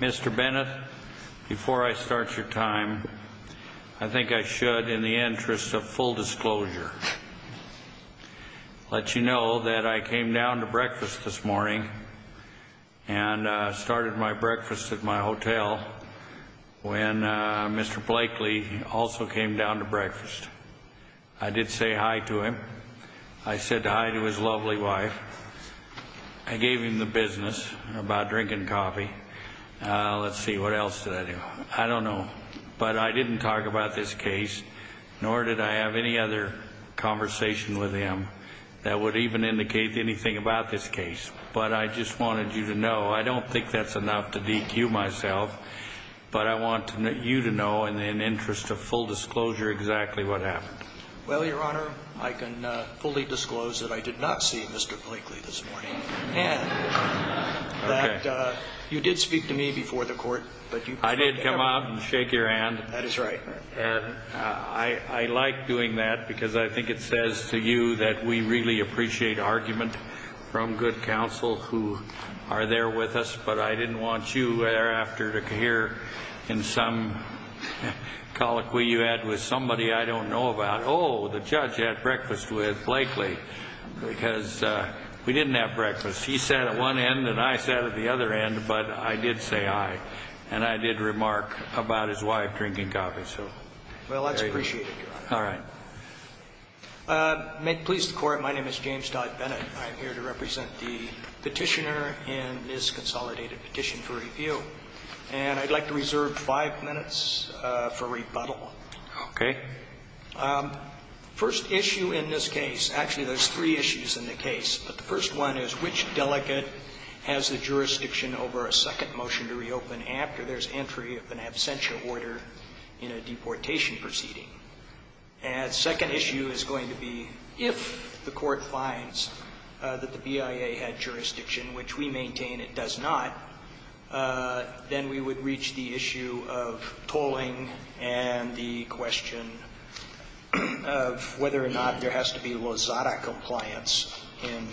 Mr. Bennett, before I start your time, I think I should, in the interest of full disclosure, let you know that I came down to breakfast this morning and started my breakfast at my hotel when Mr. Blakely also came down to breakfast. I did say hi to him. I said hi to his lovely wife. I gave him the business about drinking coffee. Let's see, what else did I do? I don't know. But I didn't talk about this case, nor did I have any other conversation with him that would even indicate anything about this case. But I just wanted you to know, I don't think that's enough to DQ myself, but I want you to know, in the interest of full disclosure, exactly what happened. Well, Your Honor, I can fully disclose that I did not see Mr. Blakely this morning. And that you did speak to me before the court, but you I did come out and shake your hand. That is right. I like doing that, because I think it says to you that we really appreciate argument from good counsel who are there with us. But I didn't want you thereafter to hear in some colloquy you had with somebody I don't know about, oh, the judge had breakfast with Blakely, because we didn't have breakfast. He sat at one end, and I sat at the other end, but I did say hi. And I did remark about his wife drinking coffee, so. Well, that's appreciated, Your Honor. All right. May it please the court, my name is James Dodd Bennett. I'm here to represent the petitioner in this consolidated petition for review. And I'd like to reserve five minutes for rebuttal. Okay. First issue in this case, actually there's three issues in the case, but the first one is which delegate has the jurisdiction over a second motion to reopen after there's entry of an absentia order in a deportation proceeding? And second issue is going to be if the court finds that the BIA had jurisdiction, which we maintain it does not, then we would reach the issue of tolling and the question of whether or not there has to be Lozada compliance in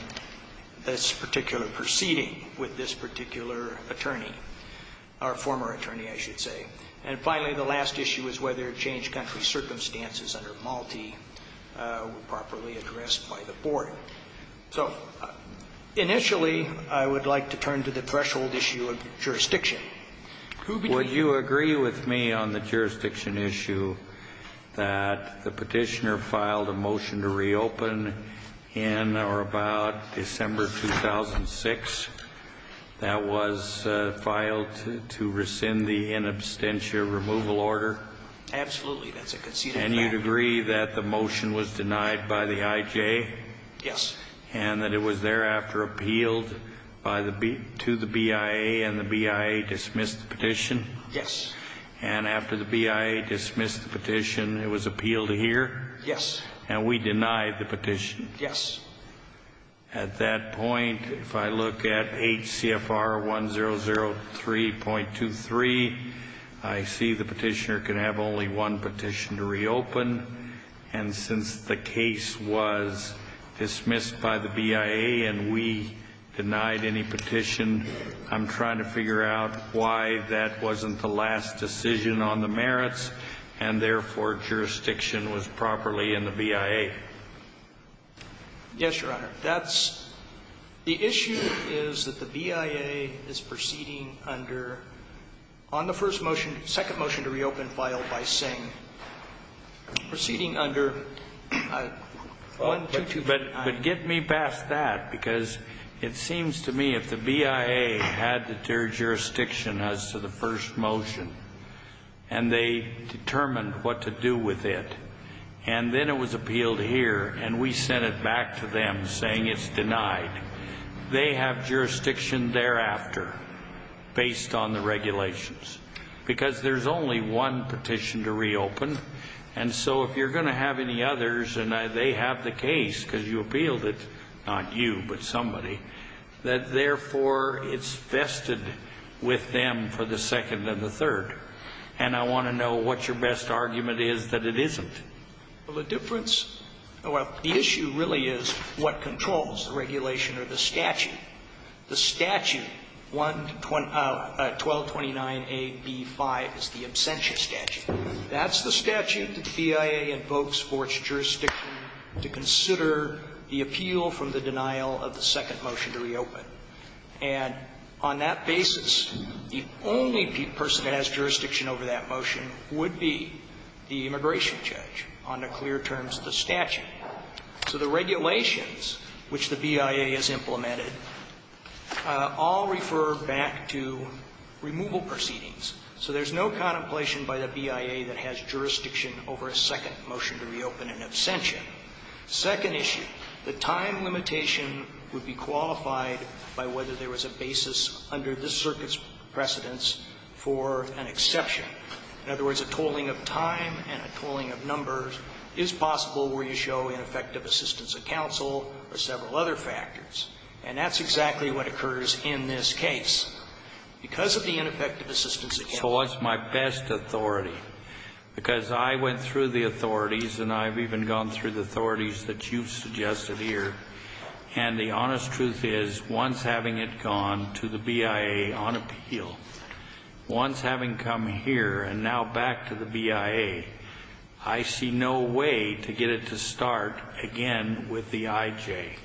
this particular proceeding with this particular attorney, our former attorney, I should say. And finally, the last issue is whether change country circumstances under Malti were properly addressed by the board. So, initially, I would like to turn to the threshold issue of jurisdiction. Would you agree with me on the jurisdiction issue that the petitioner filed a motion to reopen in or about December 2006 that was filed to rescind the inabstentia removal order? Absolutely, that's a conceded fact. And you'd agree that the motion was denied by the IJ? Yes. And that it was thereafter appealed to the BIA and the BIA dismissed the petition? Yes. And after the BIA dismissed the petition, it was appealed here? Yes. And we denied the petition? Yes. At that point, if I look at HCFR 1003.23, I see the petitioner can have only one Yes, Your Honor, that's the issue is that the BIA is proceeding under, on the first But give me a minute. I'm trying to figure out why that wasn't the last decision on the merits, and therefore jurisdiction was properly in the BIA. Yes, Your Honor, that's the issue is that the BIA is proceeding under, on the first motion, second motion to reopen file by Singh, proceeding under 122.9. But get me past that, because it seems to me if the BIA had jurisdiction as to the first motion, and they determined what to do with it, and then it was appealed here, and we sent it back to them saying it's denied, they have jurisdiction thereafter, based on the regulations, because there's only one petition to reopen. And so if you're going to have any others, and they have the case, because you appealed it, not you, but somebody, that therefore it's vested with them for the second and the third. And I want to know what your best argument is that it isn't. Well, the difference, well, the issue really is what controls the regulation or the statute. The statute, 1229AB5 is the absentia statute. That's the statute that the BIA invokes for its jurisdiction to consider the appeal from the denial of the second motion to reopen. And on that basis, the only person that has jurisdiction over that motion would be the immigration judge on the clear terms of the statute. So the regulations which the BIA has implemented all refer back to removal proceedings. So there's no contemplation by the BIA that has jurisdiction over a second motion to reopen an absentia. Second issue, the time limitation would be qualified by whether there was a basis under this circuit's precedence for an exception. In other words, a tolling of time and a tolling of numbers is possible where you show ineffective assistance of counsel or several other factors. And that's exactly what occurs in this case. Because of the ineffective assistance of counsel was my best authority, because I went through the authorities and I've even gone through the authorities that you've suggested here. And the honest truth is, once having it gone to the BIA on appeal, once having come here and now back to the BIA, I see no way to get it to start again with the I.J.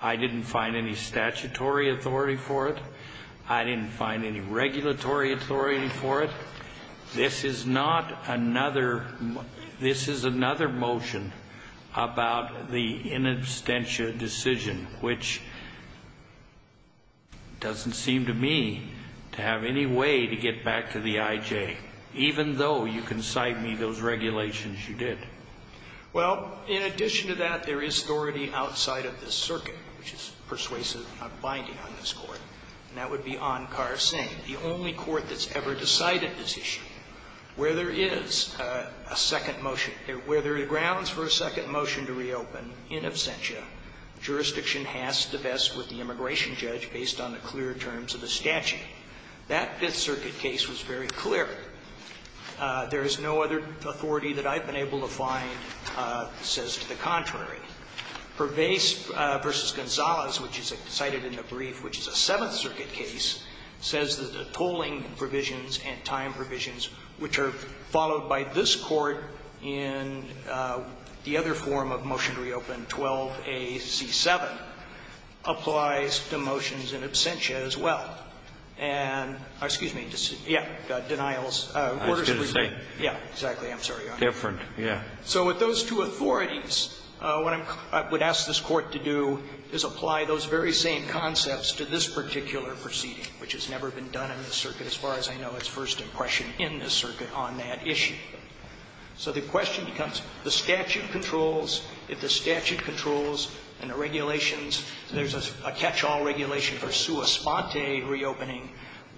I didn't find any statutory authority for it. I didn't find any regulatory authority for it. This is not another this is another motion about the in absentia decision, which doesn't seem to me to have any way to get back to the I.J., even though you can cite me those regulations you did. Well, in addition to that, there is authority outside of this circuit, which is persuasive and not binding on this Court. And that would be Ankar Singh, the only court that's ever decided this issue. Where there is a second motion, where there are grounds for a second motion to reopen in absentia, jurisdiction has to vest with the immigration judge based on the clear terms of the statute. That Fifth Circuit case was very clear. There is no other authority that I've been able to find that says to the contrary. Pervaiz v. Gonzalez, which is cited in the brief, which is a Seventh Circuit case, says that the tolling provisions and time provisions, which are followed by this Court in the other form of motion to reopen, 12A.C.7, applies to motions in absentia as well. And excuse me, yeah, denials, orders to reopen, yeah, exactly, I'm sorry, Your Honor. Different, yeah. So with those two authorities, what I'm going to ask this Court to do is apply those very same concepts to this particular proceeding, which has never been done in this circuit as far as I know its first impression in this circuit on that issue. So the question becomes, the statute controls. If the statute controls and the regulations, there's a catch-all regulation for sua sponte reopening,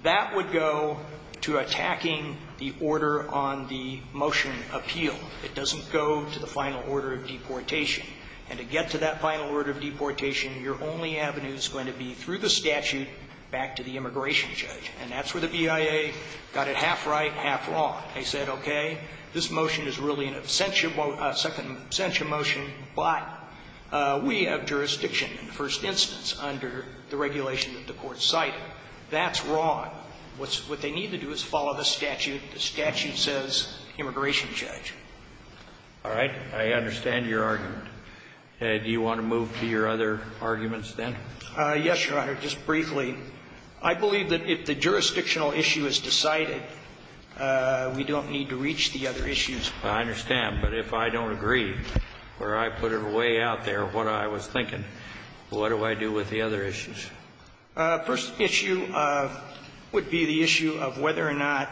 that would go to attacking the order on the motion appeal. It doesn't go to the final order of deportation. And to get to that final order of deportation, your only avenue is going to be through the statute back to the immigration judge. And that's where the BIA got it half right, half wrong. They said, okay, this motion is really an absentia motion, but we have jurisdiction in the first instance under the regulation that the Court cited. That's wrong. What they need to do is follow the statute. The statute says immigration judge. All right. I understand your argument. Do you want to move to your other arguments then? Yes, Your Honor. Just briefly, I believe that if the jurisdictional issue is decided, we don't need to reach the other issues. I understand. But if I don't agree, or I put it way out there, what I was thinking, what do I do with the other issues? First issue would be the issue of whether or not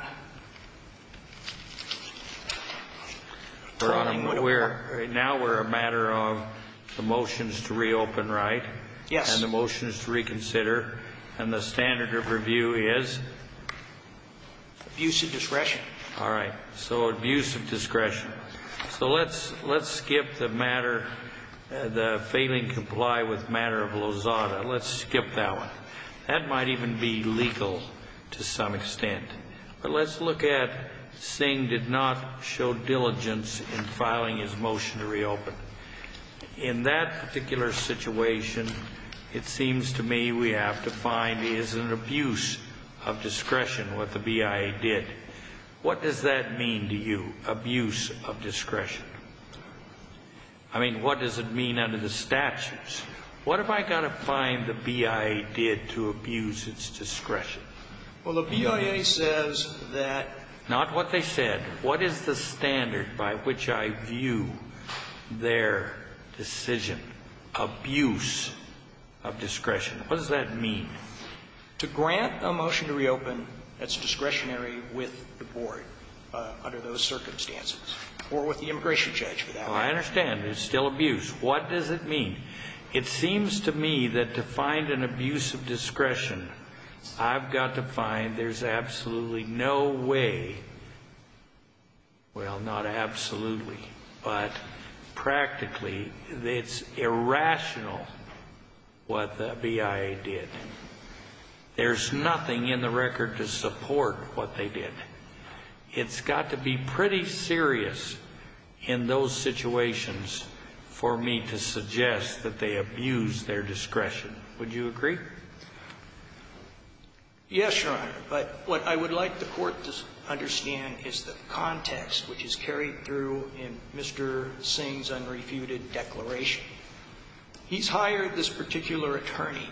the following would work. Your Honor, now we're a matter of the motions to reopen, right? Yes. And the motions to reconsider. And the standard of review is? Abuse of discretion. All right. So abuse of discretion. So let's skip the matter, the failing to comply with matter of Lozada. Let's skip that one. That might even be legal to some extent. But let's look at Singh did not show diligence in filing his motion to reopen. In that particular situation, it seems to me we have to find is an abuse of discretion, what the BIA did. What does that mean to you, abuse of discretion? I mean, what does it mean under the statutes? What have I got to find the BIA did to abuse its discretion? Well, the BIA says that. Not what they said. What is the standard by which I view their decision? Abuse of discretion. What does that mean? To grant a motion to reopen that's discretionary with the board under those circumstances, or with the immigration judge for that matter. I understand. There's still abuse. What does it mean? It seems to me that to find an abuse of discretion, I've got to find there's absolutely no way, well, not absolutely, but practically it's irrational what the BIA did. There's nothing in the record to support what they did. It's got to be pretty serious in those situations for me to suggest that they abused their discretion. Would you agree? Yes, Your Honor. But what I would like the court to understand is the context which is carried through in Mr. Singh's unrefuted declaration. He's hired this particular attorney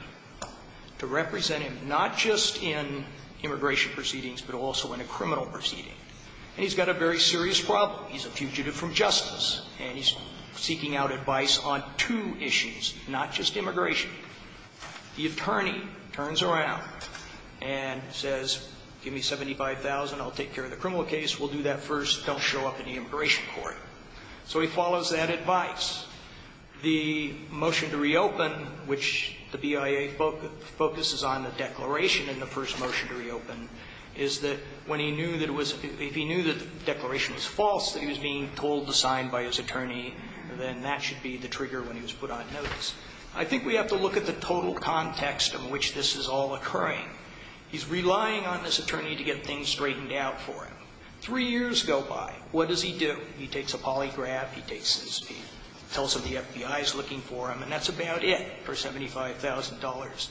to represent him not just in immigration proceedings, but also in a criminal proceeding, and he's got a very serious problem. He's a fugitive from justice, and he's seeking out advice on two issues, not just immigration. The attorney turns around and says, give me $75,000. I'll take care of the criminal case. We'll do that first. Don't show up in the immigration court. So he follows that advice. The motion to reopen, which the BIA focuses on the declaration in the first motion to reopen, is that when he knew that it was – if he knew that the declaration was false, that he was being told to sign by his attorney, then that should be the trigger when he was put on notice. I think we have to look at the total context in which this is all occurring. He's relying on this attorney to get things straightened out for him. Three years go by. What does he do? He takes a polygraph. He takes his – he tells him the FBI is looking for him, and that's about it for $75,000.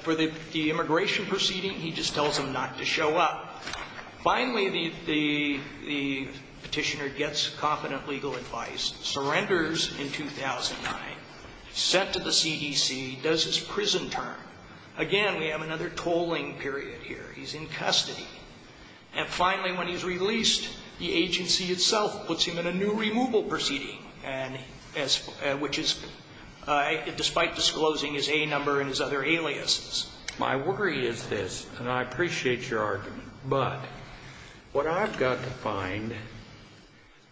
For the immigration proceeding, he just tells him not to show up. Finally, the petitioner gets competent legal advice, surrenders in 2009, sent to the CDC, does his prison term. Again, we have another tolling period here. He's in custody. And finally, when he's released, the agency itself puts him in a new removal proceeding, and as – which is, despite disclosing his A number and his other aliases. My worry is this, and I appreciate your argument, but what I've got to find,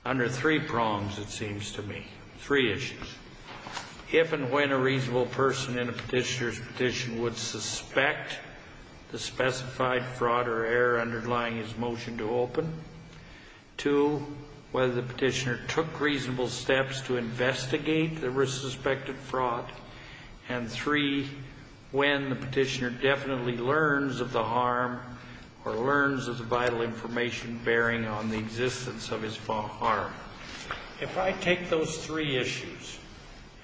under three prongs it seems to me, three issues, if and when a reasonable person in a petitioner's petition would suspect the specified fraud or error underlying his motion to open, two, whether the petitioner took reasonable steps to investigate the suspected fraud, and three, when the petitioner definitely learns of the harm or learns of the vital information bearing on the existence of his harm. If I take those three issues,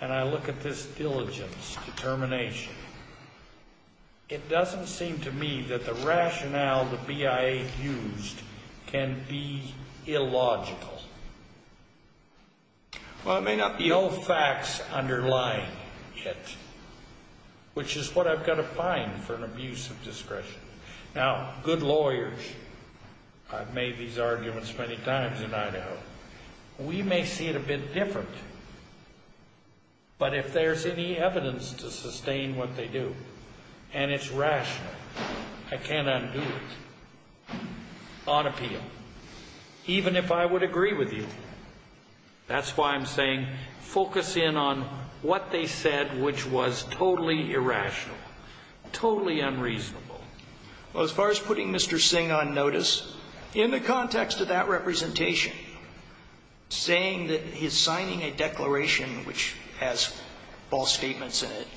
and I look at this diligence, determination, it doesn't seem to me that the rationale the BIA used can be illogical. Well, it may not be all facts underlying it, which is what I've got to find for an abuse of discretion. Now, good lawyers – I've made these arguments many times in Idaho – we may see it a bit like that. I can't undo it on appeal, even if I would agree with you. That's why I'm saying focus in on what they said, which was totally irrational, totally unreasonable. Well, as far as putting Mr. Singh on notice, in the context of that representation, saying that his signing a declaration which has false statements in it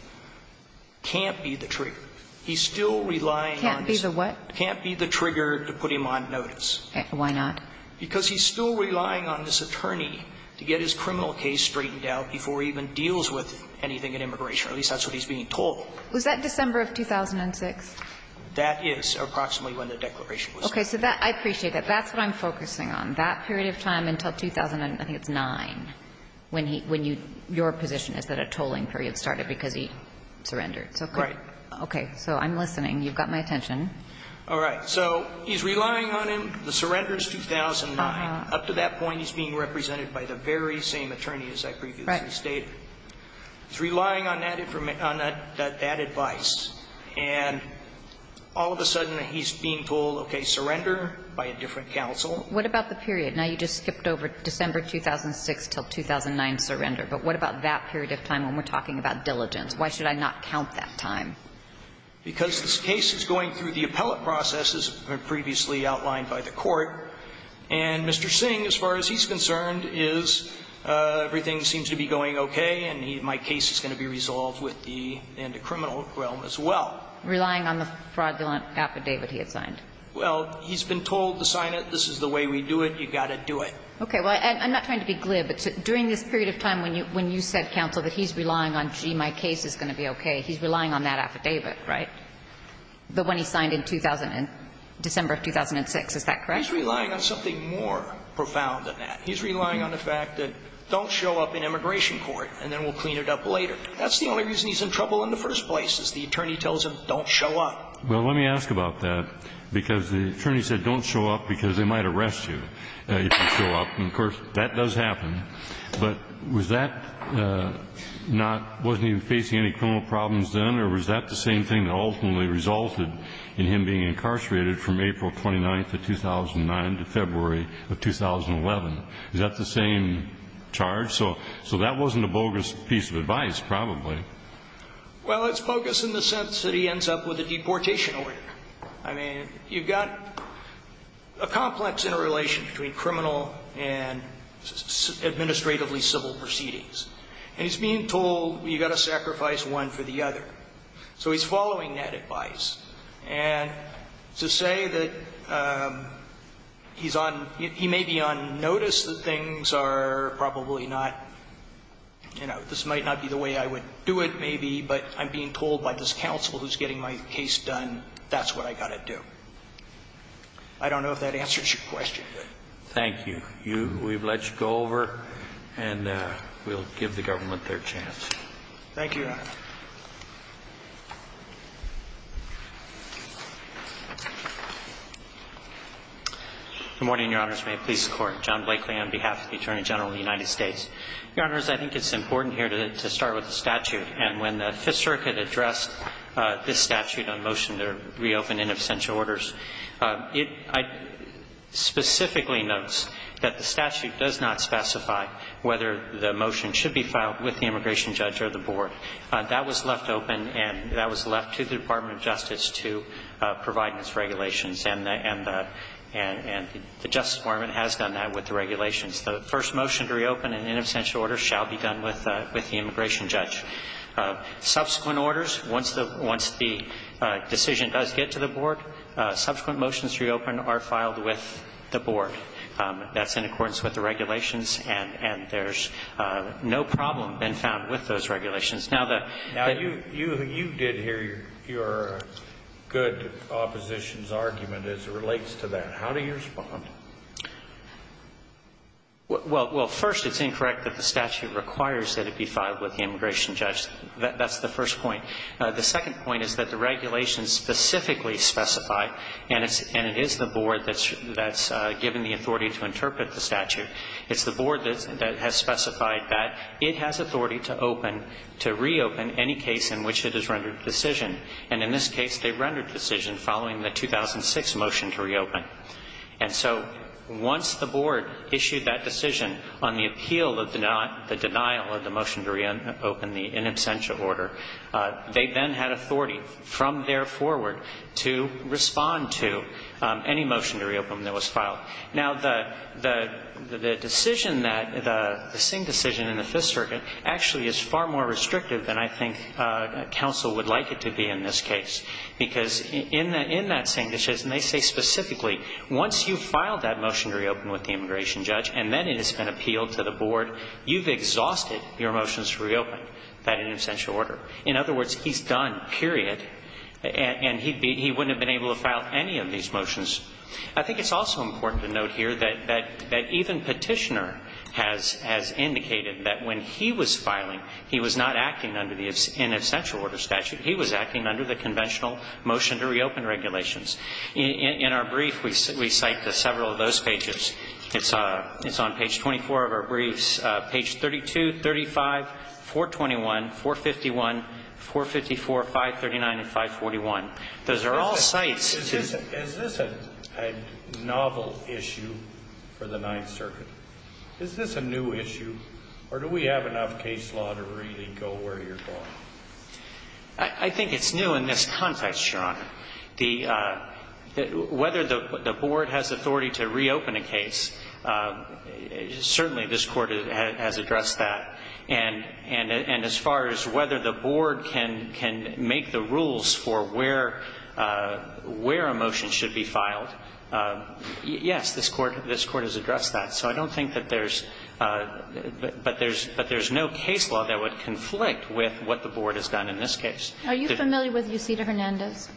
can't be the trigger to put him on notice. Why not? Because he's still relying on this attorney to get his criminal case straightened out before he even deals with anything in immigration, or at least that's what he's being told. Was that December of 2006? That is, approximately when the declaration was signed. Okay. So that – I appreciate that. That's what I'm focusing on. That period of time until 2009, when he – when your position is that a tolling period started because he surrendered. Right. Okay. So I'm listening. You've got my attention. All right. So he's relying on him. The surrender is 2009. Up to that point, he's being represented by the very same attorney as I previously stated. Right. He's relying on that advice. And all of a sudden, he's being told, okay, surrender by a different counsel. What about the period? Now, you just skipped over December 2006 until 2009 surrender. But what about that period of time when we're talking about diligence? Why should I not count that time? Because this case is going through the appellate process, as was previously outlined by the Court. And Mr. Singh, as far as he's concerned, is everything seems to be going okay, and he – my case is going to be resolved with the – and the criminal realm as well. Relying on the fraudulent affidavit he had signed. Well, he's been told to sign it. This is the way we do it. You've got to do it. Well, I'm not trying to be glib. But during this period of time when you – when you said, counsel, that he's relying on, gee, my case is going to be okay, he's relying on that affidavit, right? The one he signed in 2000 – December of 2006. Is that correct? He's relying on something more profound than that. He's relying on the fact that don't show up in immigration court, and then we'll clean it up later. That's the only reason he's in trouble in the first place, is the attorney tells him don't show up. Well, let me ask about that, because the attorney said don't show up because they might arrest you if you show up. And, of course, that does happen. But was that not – wasn't he facing any criminal problems then, or was that the same thing that ultimately resulted in him being incarcerated from April 29th of 2009 to February of 2011? Is that the same charge? So that wasn't a bogus piece of advice, probably. Well, it's bogus in the sense that he ends up with a deportation order. I mean, you've got a complex interrelation between criminal and administratively civil proceedings. And he's being told you've got to sacrifice one for the other. So he's following that advice. And to say that he's on – he may be on notice that things are probably not – you know, this might not be the way I would do it, maybe, but I'm being told by this I don't know if that answers your question. Thank you. We've let you go over, and we'll give the government their chance. Thank you, Your Honor. Good morning, Your Honors. May it please the Court. John Blakely on behalf of the Attorney General of the United States. Your Honors, I think it's important here to start with the statute. And when the Fifth Circuit addressed this statute on motion to reopen in absentia orders, it specifically notes that the statute does not specify whether the motion should be filed with the immigration judge or the board. That was left open, and that was left to the Department of Justice to provide its regulations. And the Justice Department has done that with the regulations. The first motion to reopen in in absentia order shall be done with the immigration judge. Subsequent orders, once the decision does get to the board, subsequent motions to reopen are filed with the board. That's in accordance with the regulations, and there's no problem been found with those regulations. Now, you did hear your good opposition's argument as it relates to that. How do you respond? Well, first, it's incorrect that the statute requires that it be filed with the immigration judge. That's the first point. The second point is that the regulations specifically specify, and it is the board that's given the authority to interpret the statute, it's the board that has specified that it has authority to reopen any case in which it has rendered decision. And in this case, they rendered decision following the 2006 motion to reopen. And so once the board issued that decision on the appeal of the denial of the motion to reopen in absentia order, they then had authority from there forward to respond to any motion to reopen that was filed. Now, the decision that the Singh decision in the Fifth Circuit actually is far more because in that Singh decision, they say specifically, once you file that motion to reopen with the immigration judge and then it has been appealed to the board, you've exhausted your motions to reopen that in absentia order. In other words, he's done, period, and he wouldn't have been able to file any of these motions. I think it's also important to note here that even Petitioner has indicated that when he was filing, he was not acting under the in absentia order statute. He was acting under the conventional motion to reopen regulations. In our brief, we cite several of those pages. It's on page 24 of our briefs, page 32, 35, 421, 451, 454, 539, and 541. Those are all sites. Is this a novel issue for the Ninth Circuit? Is this a new issue, or do we have enough case law to really go where you're going? I think it's new in this context, Your Honor. Whether the board has authority to reopen a case, certainly this Court has addressed that. And as far as whether the board can make the rules for where a motion should be filed, yes, this Court has addressed that. So I don't think that there's – but there's no case law that would conflict with what the board has done in this case. Are you familiar with Yucita Hernandez?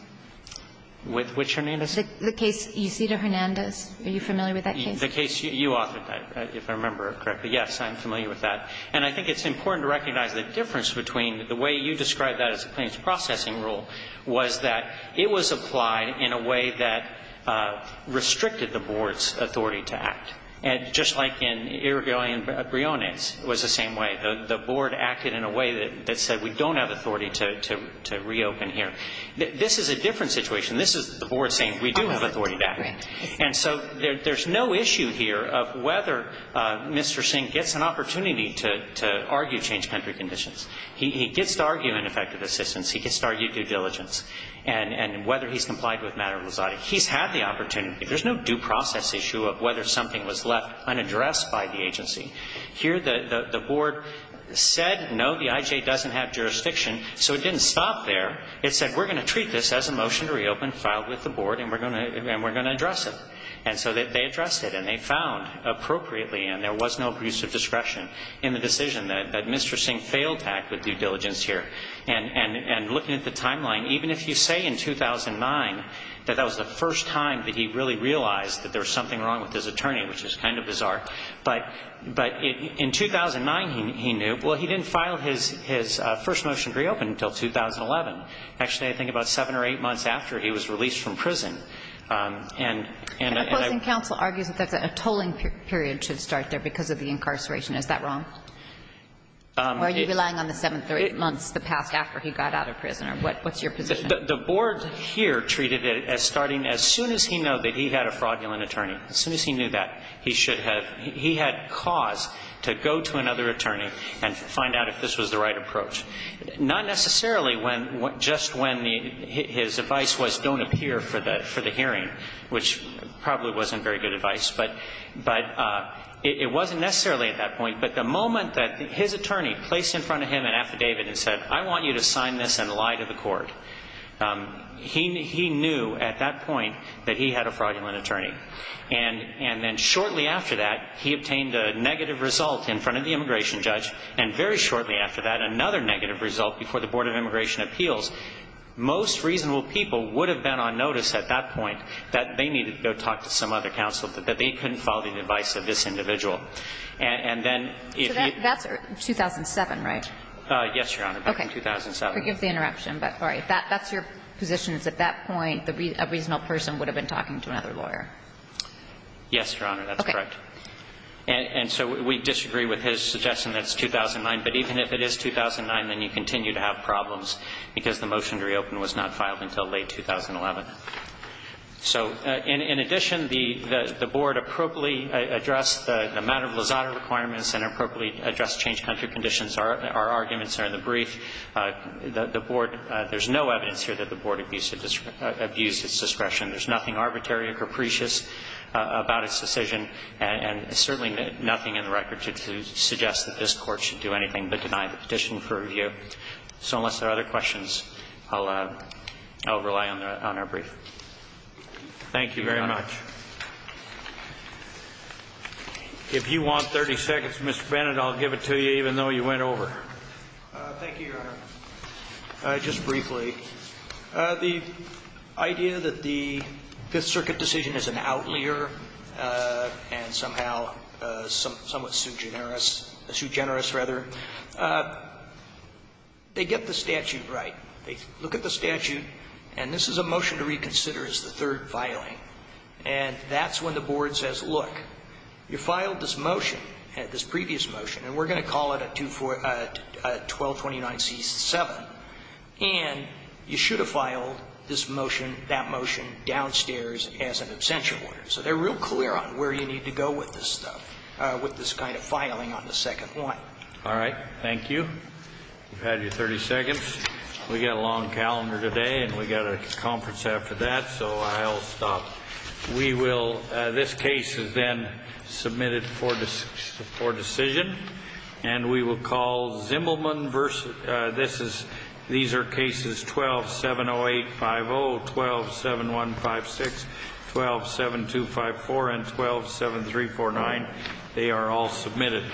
With which Hernandez? The case Yucita Hernandez. Are you familiar with that case? The case you authored, if I remember correctly. Yes, I'm familiar with that. And I think it's important to recognize the difference between the way you described that as a claims processing rule was that it was applied in a way that restricted the board's authority to act. And just like in Irigoyen-Briones, it was the same way. The board acted in a way that said we don't have authority to reopen here. This is a different situation. This is the board saying we do have authority back. Right. And so there's no issue here of whether Mr. Singh gets an opportunity to argue change country conditions. He gets to argue ineffective assistance. He gets to argue due diligence. And whether he's complied with matter rosati. He's had the opportunity. There's no due process issue of whether something was left unaddressed by the agency. Here the board said no, the IJ doesn't have jurisdiction. So it didn't stop there. It said we're going to treat this as a motion to reopen filed with the board and we're going to address it. And so they addressed it. And they found appropriately and there was no abuse of discretion in the decision that Mr. Singh failed to act with due diligence here. And looking at the timeline, even if you say in 2009 that that was the first time that he really realized that there was something wrong with his attorney, which is kind of bizarre. But in 2009 he knew. Well, he didn't file his first motion to reopen until 2011. Actually, I think about seven or eight months after he was released from prison. And I. Opposing counsel argues that a tolling period should start there because of the incarceration. Is that wrong? Or are you relying on the seven or eight months that passed after he got out of prison? What's your position? The board here treated it as starting as soon as he knew that he had a fraudulent attorney. As soon as he knew that, he had cause to go to another attorney and find out if this was the right approach. Not necessarily just when his advice was don't appear for the hearing, which probably wasn't very good advice. But it wasn't necessarily at that point. But the moment that his attorney placed in front of him an affidavit and said, I want you to sign this and lie to the court, he knew at that point that he had a fraudulent attorney. And then shortly after that, he obtained a negative result in front of the immigration judge. And very shortly after that, another negative result before the Board of Immigration Appeals. Most reasonable people would have been on notice at that point that they needed to go talk to some other counsel, that they couldn't follow the advice of this individual. And then if you. So that's 2007, right? Yes, Your Honor, back in 2007. Okay. Forgive the interruption. But all right. That's your position is at that point a reasonable person would have been talking to another lawyer. Yes, Your Honor, that's correct. Okay. And so we disagree with his suggestion that it's 2009. But even if it is 2009, then you continue to have problems, because the motion to reopen was not filed until late 2011. So in addition, the Board appropriately addressed the matter of Lozada requirements and appropriately addressed change country conditions. Our arguments are in the brief. The Board, there's no evidence here that the Board abused its discretion. There's nothing arbitrary or capricious about its decision. And there's certainly nothing in the record to suggest that this Court should do anything but deny the petition for review. So unless there are other questions, I'll rely on our brief. Thank you very much. If you want 30 seconds, Mr. Bennett, I'll give it to you, even though you went over. Thank you, Your Honor. Just briefly, the idea that the Fifth Circuit decision is an outlier and somehow somewhat sugenerous, sugenerous rather, they get the statute right. They look at the statute, and this is a motion to reconsider as the third filing. And that's when the Board says, look, you filed this motion, this previous motion, and we're going to call it a 1229C7, and you should have filed this motion, that motion downstairs as an abstention order. So they're real clear on where you need to go with this stuff, with this kind of filing on the second one. All right. Thank you. You've had your 30 seconds. We've got a long calendar today, and we've got a conference after that, so I'll stop. We will, this case is then submitted for decision, and we will call Zimmelman versus, this is, these are cases 1270850, 127156, 127254, and 127349. They are all submitted.